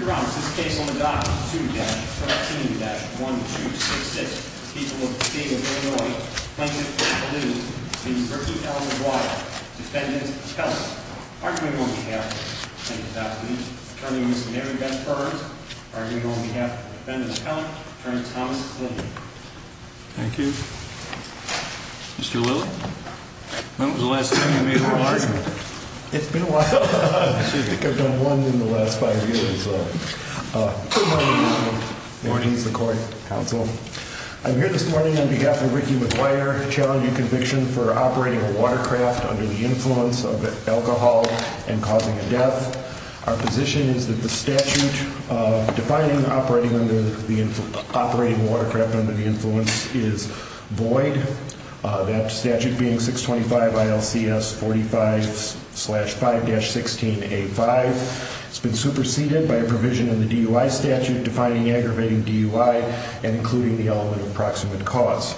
You're on this case on the dock. People will be. Thank you. Thank you. Thank you. Thank you. Mr Lillie. When was the last time you made a large. It's been a while. I think I've done one in the last five years. Mornings the court counsel. I'm here this morning on behalf of Ricky McGuire challenging conviction for operating a watercraft under the influence of alcohol and causing a death. Our position is that the statute defining operating under the operating watercraft under the influence is void. That statute being 625 ILCS 45 slash 5 dash 16 A5. It's been superseded by a provision in the DUI statute defining aggravating DUI and including the element of proximate cause.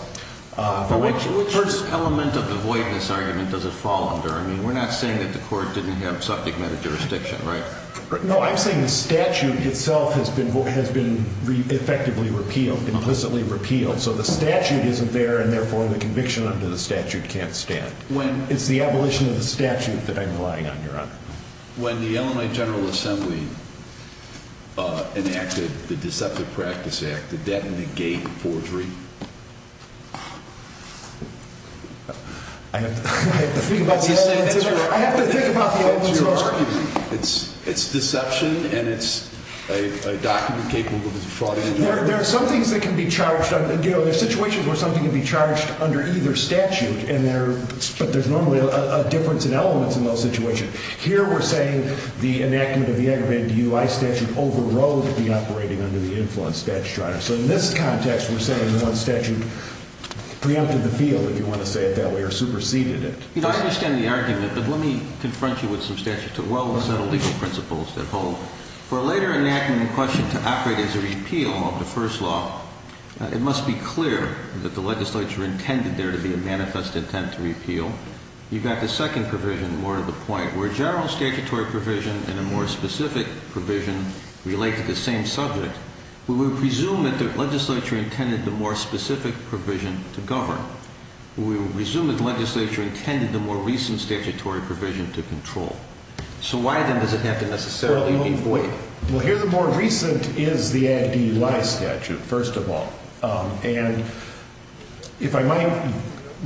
Which first element of the voidness argument does it fall under? I mean, we're not saying that the court didn't have subject matter jurisdiction, right? No, I'm saying the statute itself has been effectively repealed, implicitly repealed. So the statute isn't there, and therefore the conviction under the statute can't stand. When it's the abolition of the statute that I'm relying on your honor. When the Illinois General Assembly enacted the Deceptive Practice Act, did that negate forgery? I have to think about the answer to that. I have to think about the answer to your argument. It's deception and it's a document capable of fraud. There are situations where something can be charged under either statute, but there's normally a difference in elements in those situations. Here we're saying the enactment of the aggravating DUI statute overrode the operating under the influence statute. So in this context, we're saying the statute preempted the field, if you want to say it that way, or superseded it. You know, I understand the argument, but let me confront you with some statutes of well-settled legal principles that hold. For a later enactment in question to operate as a repeal of the first law, it must be clear that the legislature intended there to be a manifest intent to repeal. You've got the second provision, more to the point, where a general statutory provision and a more specific provision relate to the same subject. We would presume that the legislature intended the more specific provision to govern. We would presume that the legislature intended the more recent statutory provision to control. So why, then, does it have to necessarily be void? Well, here the more recent is the ag DUI statute, first of all. And if I might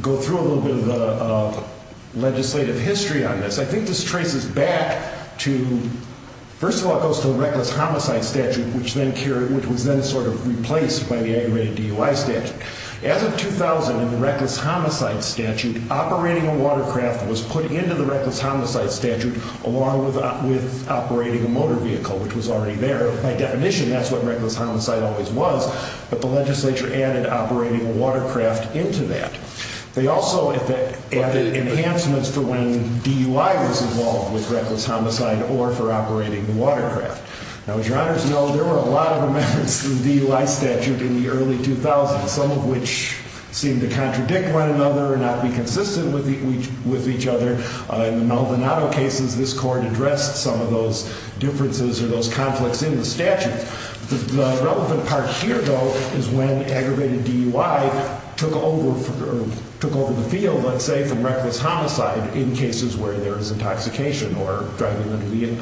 go through a little bit of the legislative history on this, I think this traces back to, first of all, it goes to the reckless homicide statute, which was then sort of replaced by the aggravated DUI statute. As of 2000, in the reckless homicide statute, operating a watercraft was put into the reckless homicide statute along with operating a motor vehicle, which was already there. By definition, that's what reckless homicide always was, but the legislature added operating a watercraft into that. They also added enhancements for when DUI was involved with reckless homicide or for operating the watercraft. Now, as your honors know, there were a lot of amendments to the DUI statute in the early 2000s, some of which seemed to contradict one another or not be consistent with each other. In the Maldonado cases, this court addressed some of those differences or those conflicts in the statute. The relevant part here, though, is when aggravated DUI took over the field, let's say, from reckless homicide in cases where there is intoxication or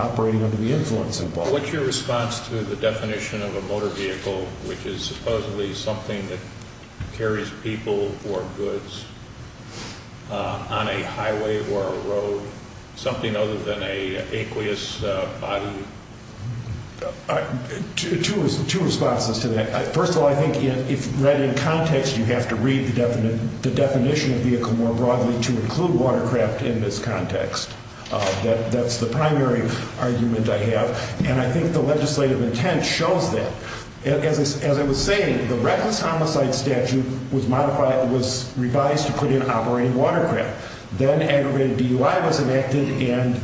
operating under the influence involved. So what's your response to the definition of a motor vehicle, which is supposedly something that carries people or goods on a highway or a road, something other than an aqueous body? Two responses to that. First of all, I think if read in context, you have to read the definition of vehicle more broadly to include watercraft in this context. That's the primary argument I have, and I think the legislative intent shows that. As I was saying, the reckless homicide statute was revised to put in operating watercraft. Then aggravated DUI was enacted, and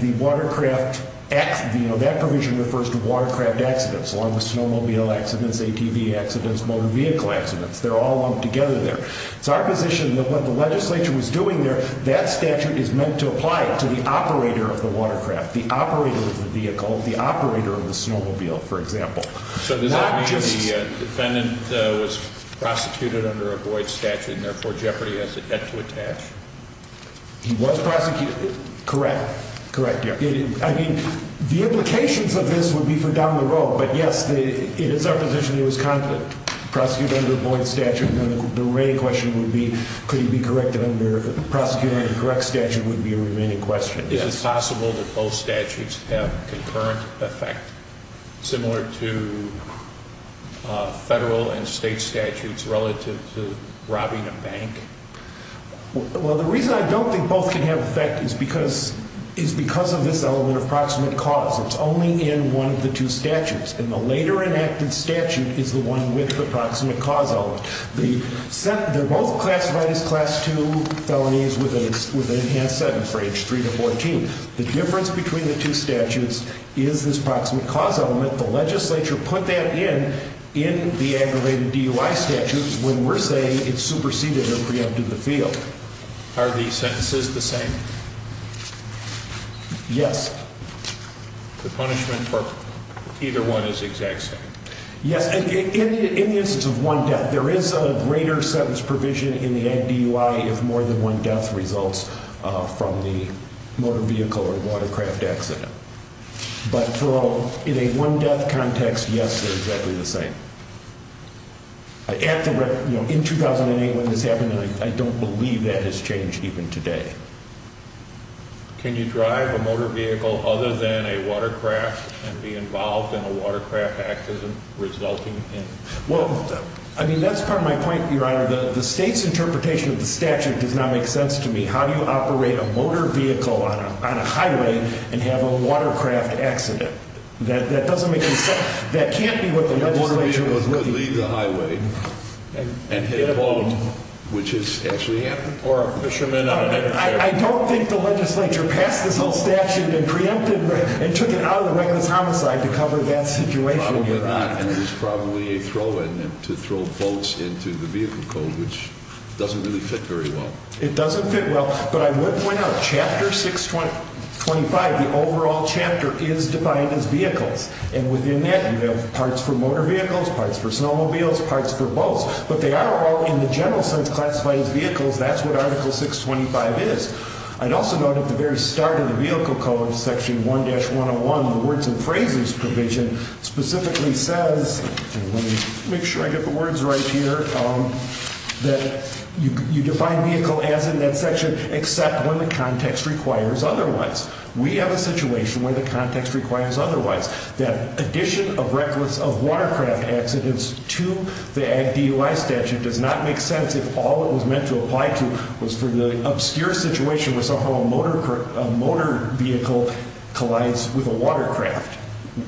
that provision refers to watercraft accidents, along with snowmobile accidents, ATV accidents, motor vehicle accidents. They're all lumped together there. It's our position that what the legislature was doing there, that statute is meant to apply it to the operator of the watercraft, the operator of the vehicle, the operator of the snowmobile, for example. So does that mean the defendant was prosecuted under a Boyd statute and therefore Jeopardy has a debt to attach? He was prosecuted. Correct. Correct, yeah. I mean, the implications of this would be for down the road, but yes, it is our position he was prosecuted under a Boyd statute. The re-question would be could he be corrected under prosecuting a correct statute would be a remaining question. Is it possible that both statutes have concurrent effect similar to federal and state statutes relative to robbing a bank? Well, the reason I don't think both can have effect is because of this element of proximate cause. It's only in one of the two statutes, and the later enacted statute is the one with the proximate cause element. They're both classified as Class II felonies with an enhanced sentence for age 3 to 14. The difference between the two statutes is this proximate cause element. The legislature put that in in the aggravated DUI statutes when we're saying it's superseded or preempted the field. Are the sentences the same? Yes. The punishment for either one is the exact same? Yes. In the instance of one death, there is a greater sentence provision in the DUI if more than one death results from the motor vehicle or watercraft accident. But in a one death context, yes, they're exactly the same. In 2008 when this happened, I don't believe that has changed even today. Can you drive a motor vehicle other than a watercraft and be involved in a watercraft accident resulting in... Well, I mean, that's part of my point, Your Honor. The state's interpretation of the statute does not make sense to me. How do you operate a motor vehicle on a highway and have a watercraft accident? That doesn't make any sense. That can't be what the legislature is looking for. A motor vehicle could leave the highway and hit a boat, which has actually happened. Or a fisherman on a deck of ships. I don't think the legislature passed this whole statute and preempted it and took it out of the reckless homicide to cover that situation, Your Honor. Probably not. And it was probably a throw in to throw boats into the vehicle code, which doesn't really fit very well. It doesn't fit well. But I would point out Chapter 625, the overall chapter, is defined as vehicles. And within that you have parts for motor vehicles, parts for snowmobiles, parts for boats. But they are all in the general sense classified as vehicles. That's what Article 625 is. I'd also note at the very start of the vehicle code, Section 1-101, the words and phrases provision specifically says, and let me make sure I get the words right here, that you define vehicle as in that section except when the context requires otherwise. We have a situation where the context requires otherwise. That addition of reckless of watercraft accidents to the Ag DUI statute does not make sense if all it was meant to apply to was for the obscure situation where somehow a motor vehicle collides with a watercraft.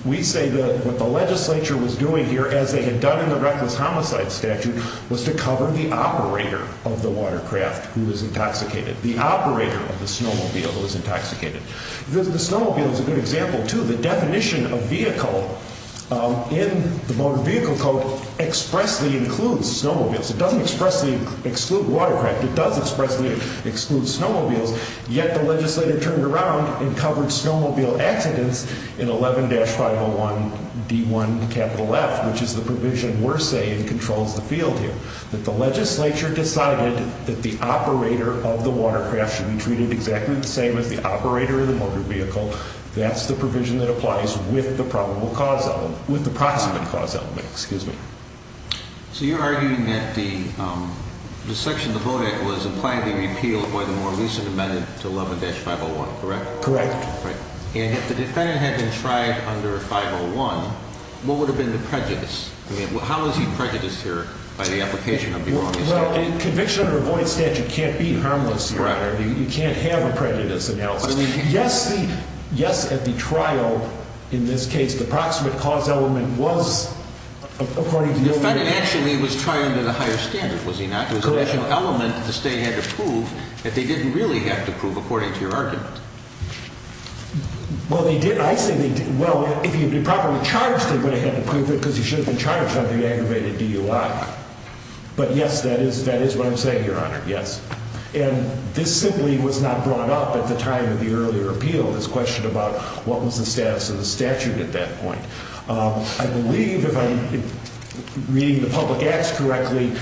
We say that what the legislature was doing here, as they had done in the reckless homicide statute, was to cover the operator of the watercraft who was intoxicated. The operator of the snowmobile who was intoxicated. The snowmobile is a good example, too. The definition of vehicle in the Motor Vehicle Code expressly includes snowmobiles. It doesn't expressly exclude watercraft. It does expressly exclude snowmobiles. Yet the legislature turned around and covered snowmobile accidents in 11-501D1F, which is the provision we're saying controls the field here. That the legislature decided that the operator of the watercraft should be treated exactly the same as the operator of the motor vehicle. That's the provision that applies with the probable cause element, with the proximate cause element. Excuse me. So you're arguing that the section of the VODAC was impliedly repealed by the more recent amendment to 11-501, correct? Correct. And if the defendant had been tried under 501, what would have been the prejudice? I mean, how is he prejudiced here by the application of the erroneous statute? Well, a conviction under a void statute can't be harmless. Correct. You can't have a prejudice in health. Yes, at the trial, in this case, the proximate cause element was, according to your argument. The defendant actually was tried under the higher standard, was he not? Correct. It was an actual element that the state had to prove that they didn't really have to prove, according to your argument. Well, they did. I say they did. Well, if he had been properly charged, they would have had to prove it because he should have been charged under the aggravated DUI. But yes, that is what I'm saying, Your Honor. Yes. And this simply was not brought up at the time of the earlier appeal, this question about what was the status of the statute at that point. I believe, if I'm reading the public acts correctly,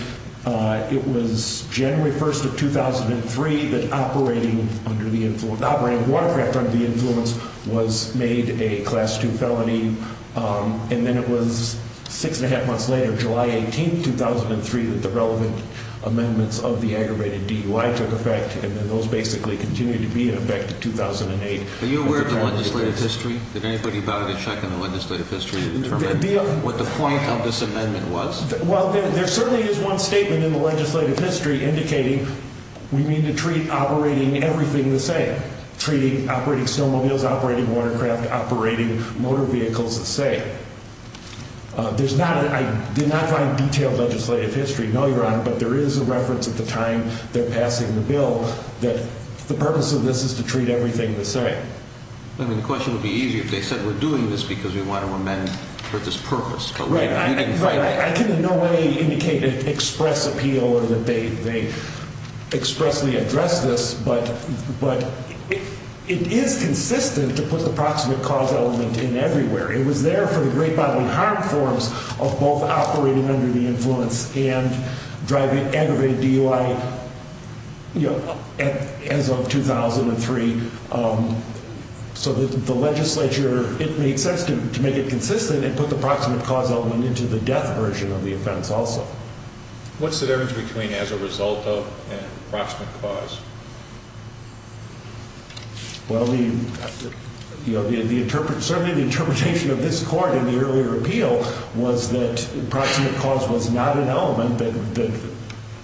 it was January 1st of 2003 that operating under the influence, operating with watercraft under the influence, was made a Class II felony. And then it was six and a half months later, July 18th, 2003, that the relevant amendments of the aggravated DUI took effect. And then those basically continued to be in effect in 2008. Are you aware of the legislative history? Did anybody bother to check on the legislative history to determine what the point of this amendment was? Well, there certainly is one statement in the legislative history indicating we need to treat operating everything the same, treating operating snowmobiles, operating watercraft, operating motor vehicles the same. There's not, I did not find detailed legislative history. No, Your Honor, but there is a reference at the time they're passing the bill that the purpose of this is to treat everything the same. I mean, the question would be easier if they said we're doing this because we want to amend for this purpose. Right. I can in no way indicate an express appeal or that they expressly address this, but it is consistent to put the proximate cause element in everywhere. It was there for the great bodily harm forms of both operating under the influence and driving aggravated DUI as of 2003. So the legislature, it made sense to make it consistent and put the proximate cause element into the death version of the offense also. What's the difference between as a result of and proximate cause? Well, the, you know, certainly the interpretation of this Court in the earlier appeal was that proximate cause was not an element, that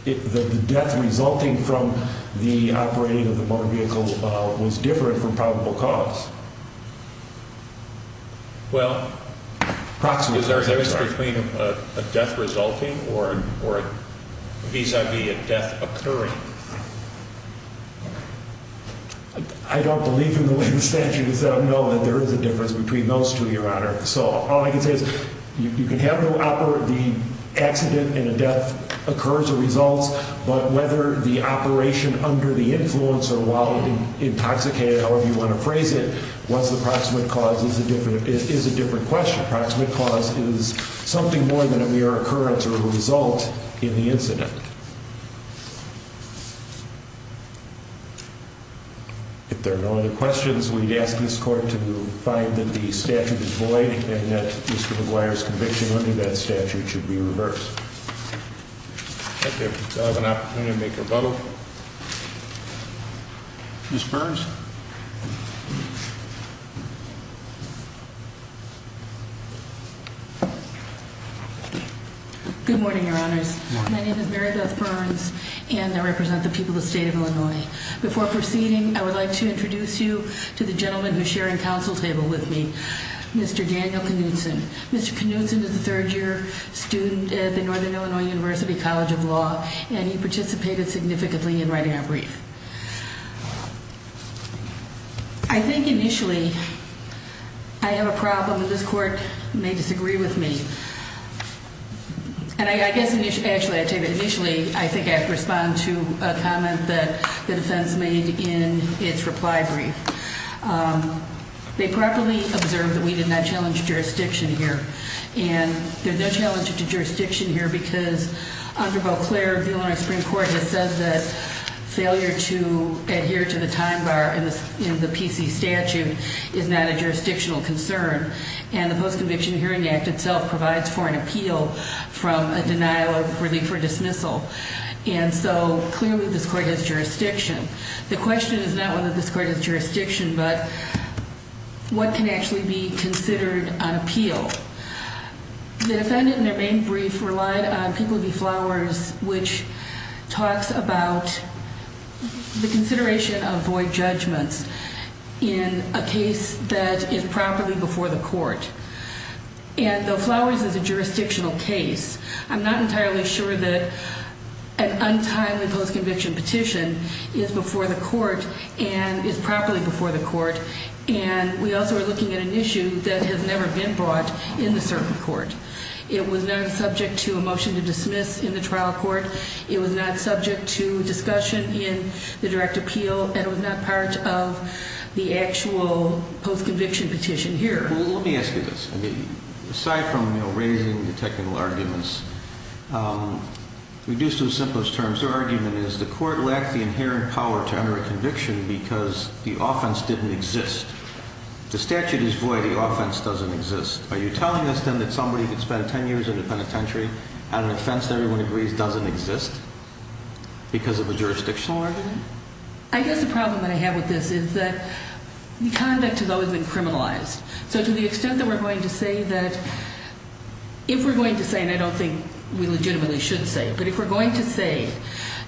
the death resulting from the operating of the motor vehicle was different from probable cause. Well, is there a difference between a death resulting or vis-a-vis a death occurring? I don't believe in the way the statute is set up, no, that there is a difference between those two, Your Honor. So all I can say is you can have the accident and the death occur as a result, but whether the operation under the influence or while intoxicated, however you want to phrase it, was the proximate cause is a different question. Proximate cause is something more than a mere occurrence or a result in the incident. If there are no other questions, we ask this Court to find that the statute is void and that Mr. McGuire's conviction under that statute should be reversed. I have an opportunity to make a rebuttal. Ms. Burns. Good morning, Your Honors. My name is Mary Beth Burns, and I represent the people of the State of Illinois. Before proceeding, I would like to introduce you to the gentleman who is sharing counsel table with me, Mr. Daniel Knutson. Mr. Knutson is a third-year student at the Northern Illinois University College of Law, and he participated significantly in writing our brief. I think initially I have a problem, and this Court may disagree with me. And I guess, actually, I'll tell you that initially I think I have to respond to a comment that the defense made in its reply brief. They properly observed that we did not challenge jurisdiction here. And there's no challenge to jurisdiction here because under Beauclair, the Illinois Supreme Court has said that failure to adhere to the time bar in the PC statute is not a jurisdictional concern. And the Post-Conviction Hearing Act itself provides for an appeal from a denial of relief or dismissal. And so, clearly, this Court has jurisdiction. The question is not whether this Court has jurisdiction, but what can actually be considered on appeal. The defendant, in their main brief, relied on Pinkleby Flowers, which talks about the consideration of void judgments in a case that is properly before the court. And though Flowers is a jurisdictional case, I'm not entirely sure that an untimely post-conviction petition is before the court and is properly before the court. And we also are looking at an issue that has never been brought in the circuit court. It was not subject to a motion to dismiss in the trial court. It was not subject to discussion in the direct appeal. And it was not part of the actual post-conviction petition here. Let me ask you this. Aside from raising the technical arguments, reduced to the simplest terms, your argument is the court lacked the inherent power to enter a conviction because the offense didn't exist. The statute is void. The offense doesn't exist. Are you telling us, then, that somebody who could spend 10 years in a penitentiary on an offense that everyone agrees doesn't exist because of a jurisdictional argument? I guess the problem that I have with this is that the conduct has always been criminalized. So to the extent that we're going to say that if we're going to say, and I don't think we legitimately should say it, but if we're going to say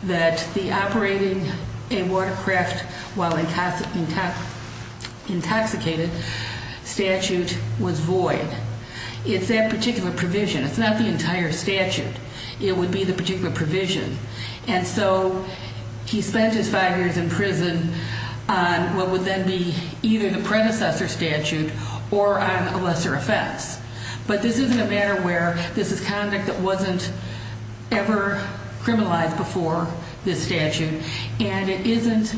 that the operating a watercraft while intoxicated statute was void, it's that particular provision. It's not the entire statute. It would be the particular provision. And so he spent his five years in prison on what would then be either the predecessor statute or on a lesser offense. But this isn't a matter where this is conduct that wasn't ever criminalized before this statute. And it isn't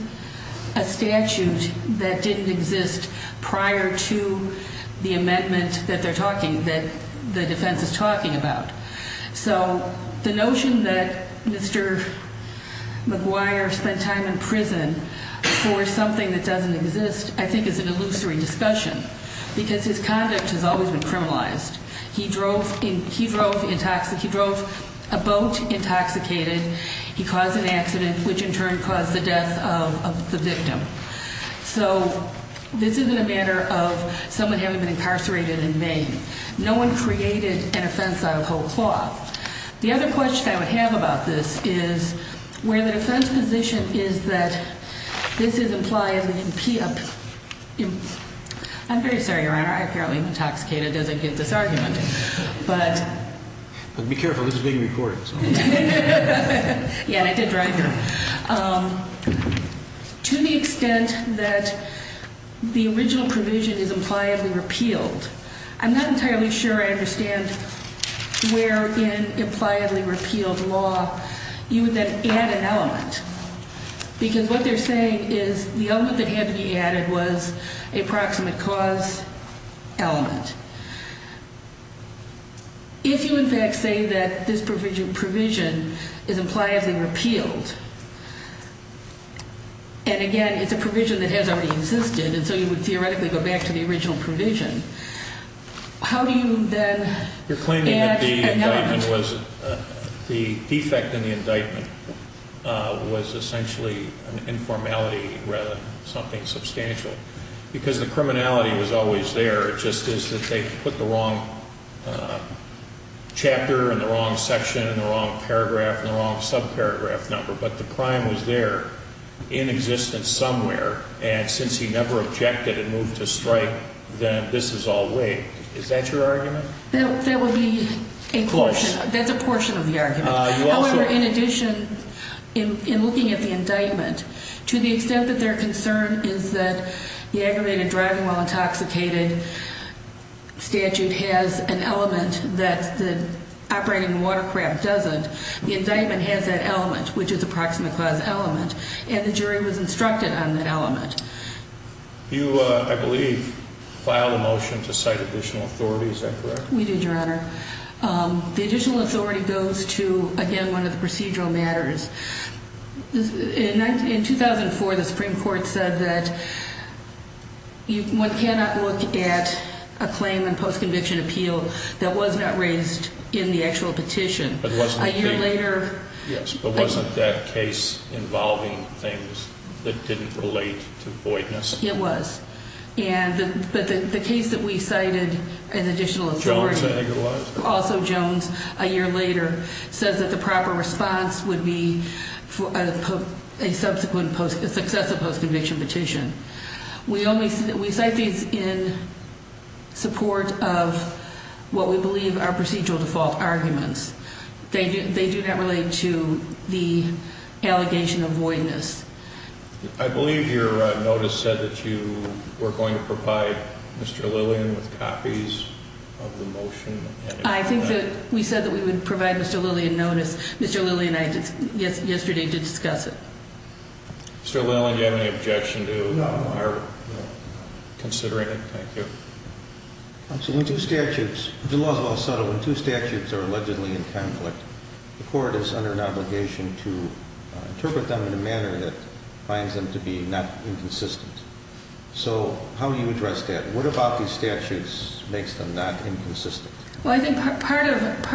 a statute that didn't exist prior to the amendment that they're talking, that the defense is talking about. So the notion that Mr. McGuire spent time in prison for something that doesn't exist I think is an illusory discussion, because his conduct has always been criminalized. He drove a boat intoxicated. He caused an accident, which in turn caused the death of the victim. So this isn't a matter of someone having been incarcerated in vain. No one created an offense out of whole cloth. The other question I would have about this is where the defense position is that this is implied as an impia. I'm very sorry, Your Honor. I apparently am intoxicated. It doesn't get this argument. But be careful. This is being recorded. Yeah, and I did drive here. To the extent that the original provision is impliedly repealed, I'm not entirely sure I understand where in impliedly repealed law you would then add an element. Because what they're saying is the element that had to be added was a proximate cause element. If you, in fact, say that this provision is impliedly repealed, and, again, it's a provision that has already existed, and so you would theoretically go back to the original provision, how do you then add an element? You're claiming that the indictment was the defect in the indictment was essentially an informality rather than something substantial. Because the criminality was always there. It just is that they put the wrong chapter and the wrong section and the wrong paragraph and the wrong subparagraph number. But the crime was there in existence somewhere, and since he never objected and moved to strike, then this is all weak. Is that your argument? That would be a portion. Close. That's a portion of the argument. However, in addition, in looking at the indictment, to the extent that their concern is that the aggravated driving while intoxicated statute has an element that the operating watercraft doesn't, the indictment has that element, which is a proximate cause element, and the jury was instructed on that element. You, I believe, filed a motion to cite additional authority. Is that correct? We did, Your Honor. The additional authority goes to, again, one of the procedural matters. In 2004, the Supreme Court said that one cannot look at a claim in post-conviction appeal that was not raised in the actual petition. But wasn't it? A year later. Yes, but wasn't that case involving things that didn't relate to voidness? It was. But the case that we cited as additional authority. Jones, I think it was. Also Jones, a year later, says that the proper response would be a subsequent successive post-conviction petition. We cite these in support of what we believe are procedural default arguments. They do not relate to the allegation of voidness. I believe your notice said that you were going to provide Mr. Lillian with copies of the motion. I think that we said that we would provide Mr. Lillian notice. Mr. Lillian and I did yesterday to discuss it. Mr. Lillian, do you have any objection to our considering it? Thank you. Counsel, when two statutes, the law is well settled when two statutes are allegedly in conflict, the court is under an obligation to interpret them in a manner that finds them to be not inconsistent. So how do you address that? What about these statutes makes them not inconsistent? Well, I think part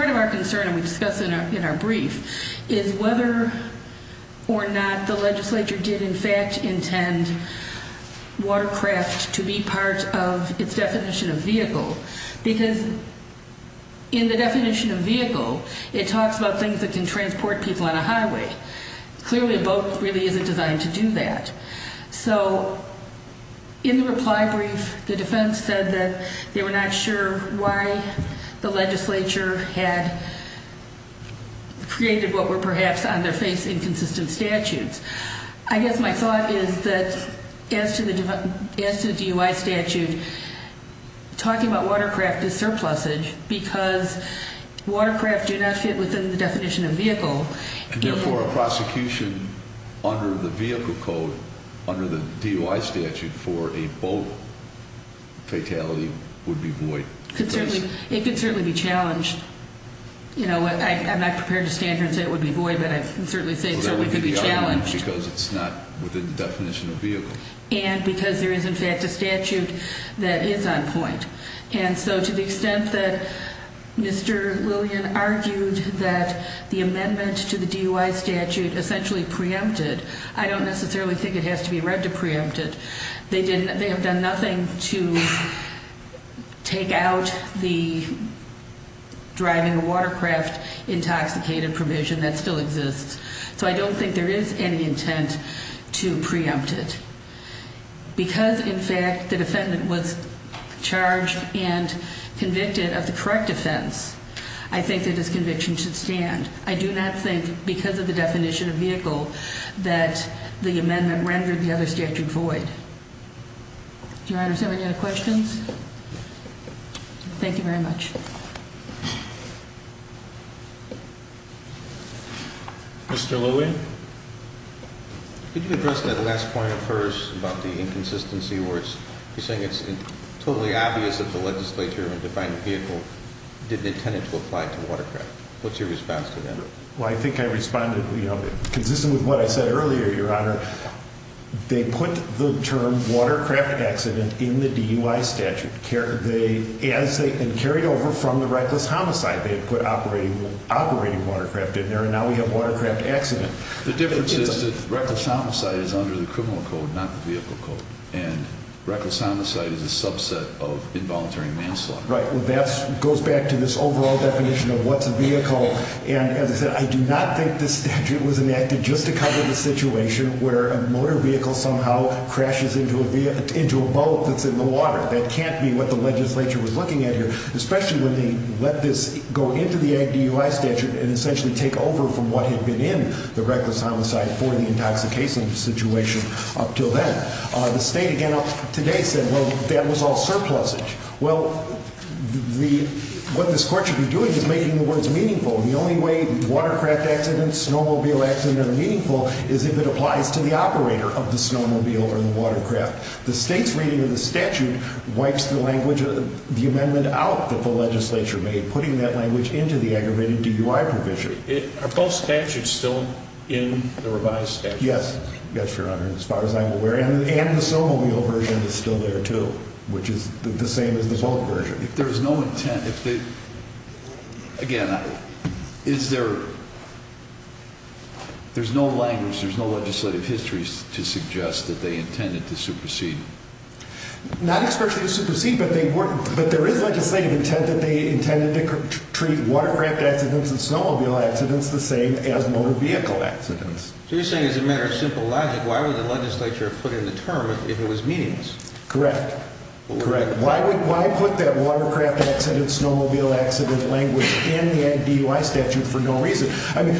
of our concern, and we discussed it in our brief, is whether or not the legislature did in fact intend Watercraft to be part of its definition of vehicle. Because in the definition of vehicle, it talks about things that can transport people on a highway. Clearly a boat really isn't designed to do that. So in the reply brief, the defense said that they were not sure why the legislature had created what were perhaps on their face inconsistent statutes. I guess my thought is that as to the DUI statute, talking about Watercraft is surplusage because Watercraft do not fit within the definition of vehicle. And therefore a prosecution under the vehicle code, under the DUI statute for a boat fatality would be void. It could certainly be challenged. I'm not prepared to stand here and say it would be void, but I can certainly say it could be challenged. Because it's not within the definition of vehicle. And because there is in fact a statute that is on point. And so to the extent that Mr. Lillian argued that the amendment to the DUI statute essentially preempted, I don't necessarily think it has to be read to preempt it. They have done nothing to take out the driving a Watercraft intoxicated provision that still exists. So I don't think there is any intent to preempt it. Because in fact the defendant was charged and convicted of the correct offense, I think that this conviction should stand. I do not think because of the definition of vehicle that the amendment rendered the other statute void. Your Honor, is there any other questions? Thank you very much. Mr. Lillian? Could you address that last point of hers about the inconsistency where you're saying it's totally obvious that the legislature and defining vehicle didn't intend it to apply to Watercraft? What's your response to that? Well, I think I responded, you know, consistent with what I said earlier, Your Honor. They put the term Watercraft accident in the DUI statute. As they had carried over from the reckless homicide, they had put operating Watercraft in there. And now we have Watercraft accident. The difference is that reckless homicide is under the criminal code, not the vehicle code. And reckless homicide is a subset of involuntary manslaughter. Right. Well, that goes back to this overall definition of what's a vehicle. And as I said, I do not think this statute was enacted just to cover the situation where a motor vehicle somehow crashes into a boat that's in the water. That can't be what the legislature was looking at here, especially when they let this go into the DUI statute and essentially take over from what had been in the reckless homicide for the intoxication situation up until then. The state again today said, well, that was all surplusage. Well, what this court should be doing is making the words meaningful. And the only way Watercraft accident, snowmobile accident are meaningful is if it applies to the operator of the snowmobile or the Watercraft. The state's reading of the statute wipes the language of the amendment out that the legislature made, putting that language into the aggravated DUI provision. Are both statutes still in the revised statute? Yes. Yes, Your Honor. As far as I'm aware. And the snowmobile version is still there, too, which is the same as the boat version. If there is no intent, again, is there, there's no language, there's no legislative history to suggest that they intended to supersede. Not especially to supersede, but there is legislative intent that they intended to treat Watercraft accidents and snowmobile accidents the same as motor vehicle accidents. So you're saying as a matter of simple logic, why would the legislature put in the term if it was meaningless? Correct. Correct. Why would, why put that Watercraft accident, snowmobile accident language in the DUI statute for no reason? I mean,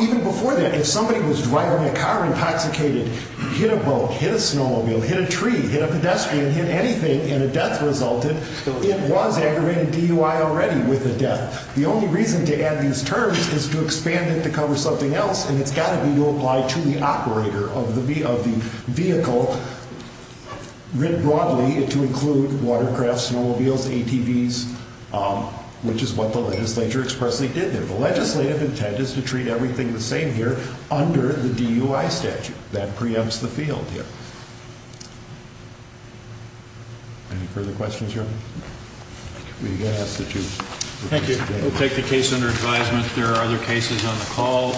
even before that, if somebody was driving a car intoxicated, hit a boat, hit a snowmobile, hit a tree, hit a pedestrian, hit anything, and a death resulted, it was aggravated DUI already with a death. The only reason to add these terms is to expand it to cover something else. And it's got to be to apply to the operator of the vehicle writ broadly to include Watercraft, snowmobiles, ATVs, which is what the legislature expressly did there. The legislative intent is to treat everything the same here under the DUI statute. That preempts the field here. Any further questions, Your Honor? Thank you. We'll take the case under advisement. There are other cases on the call.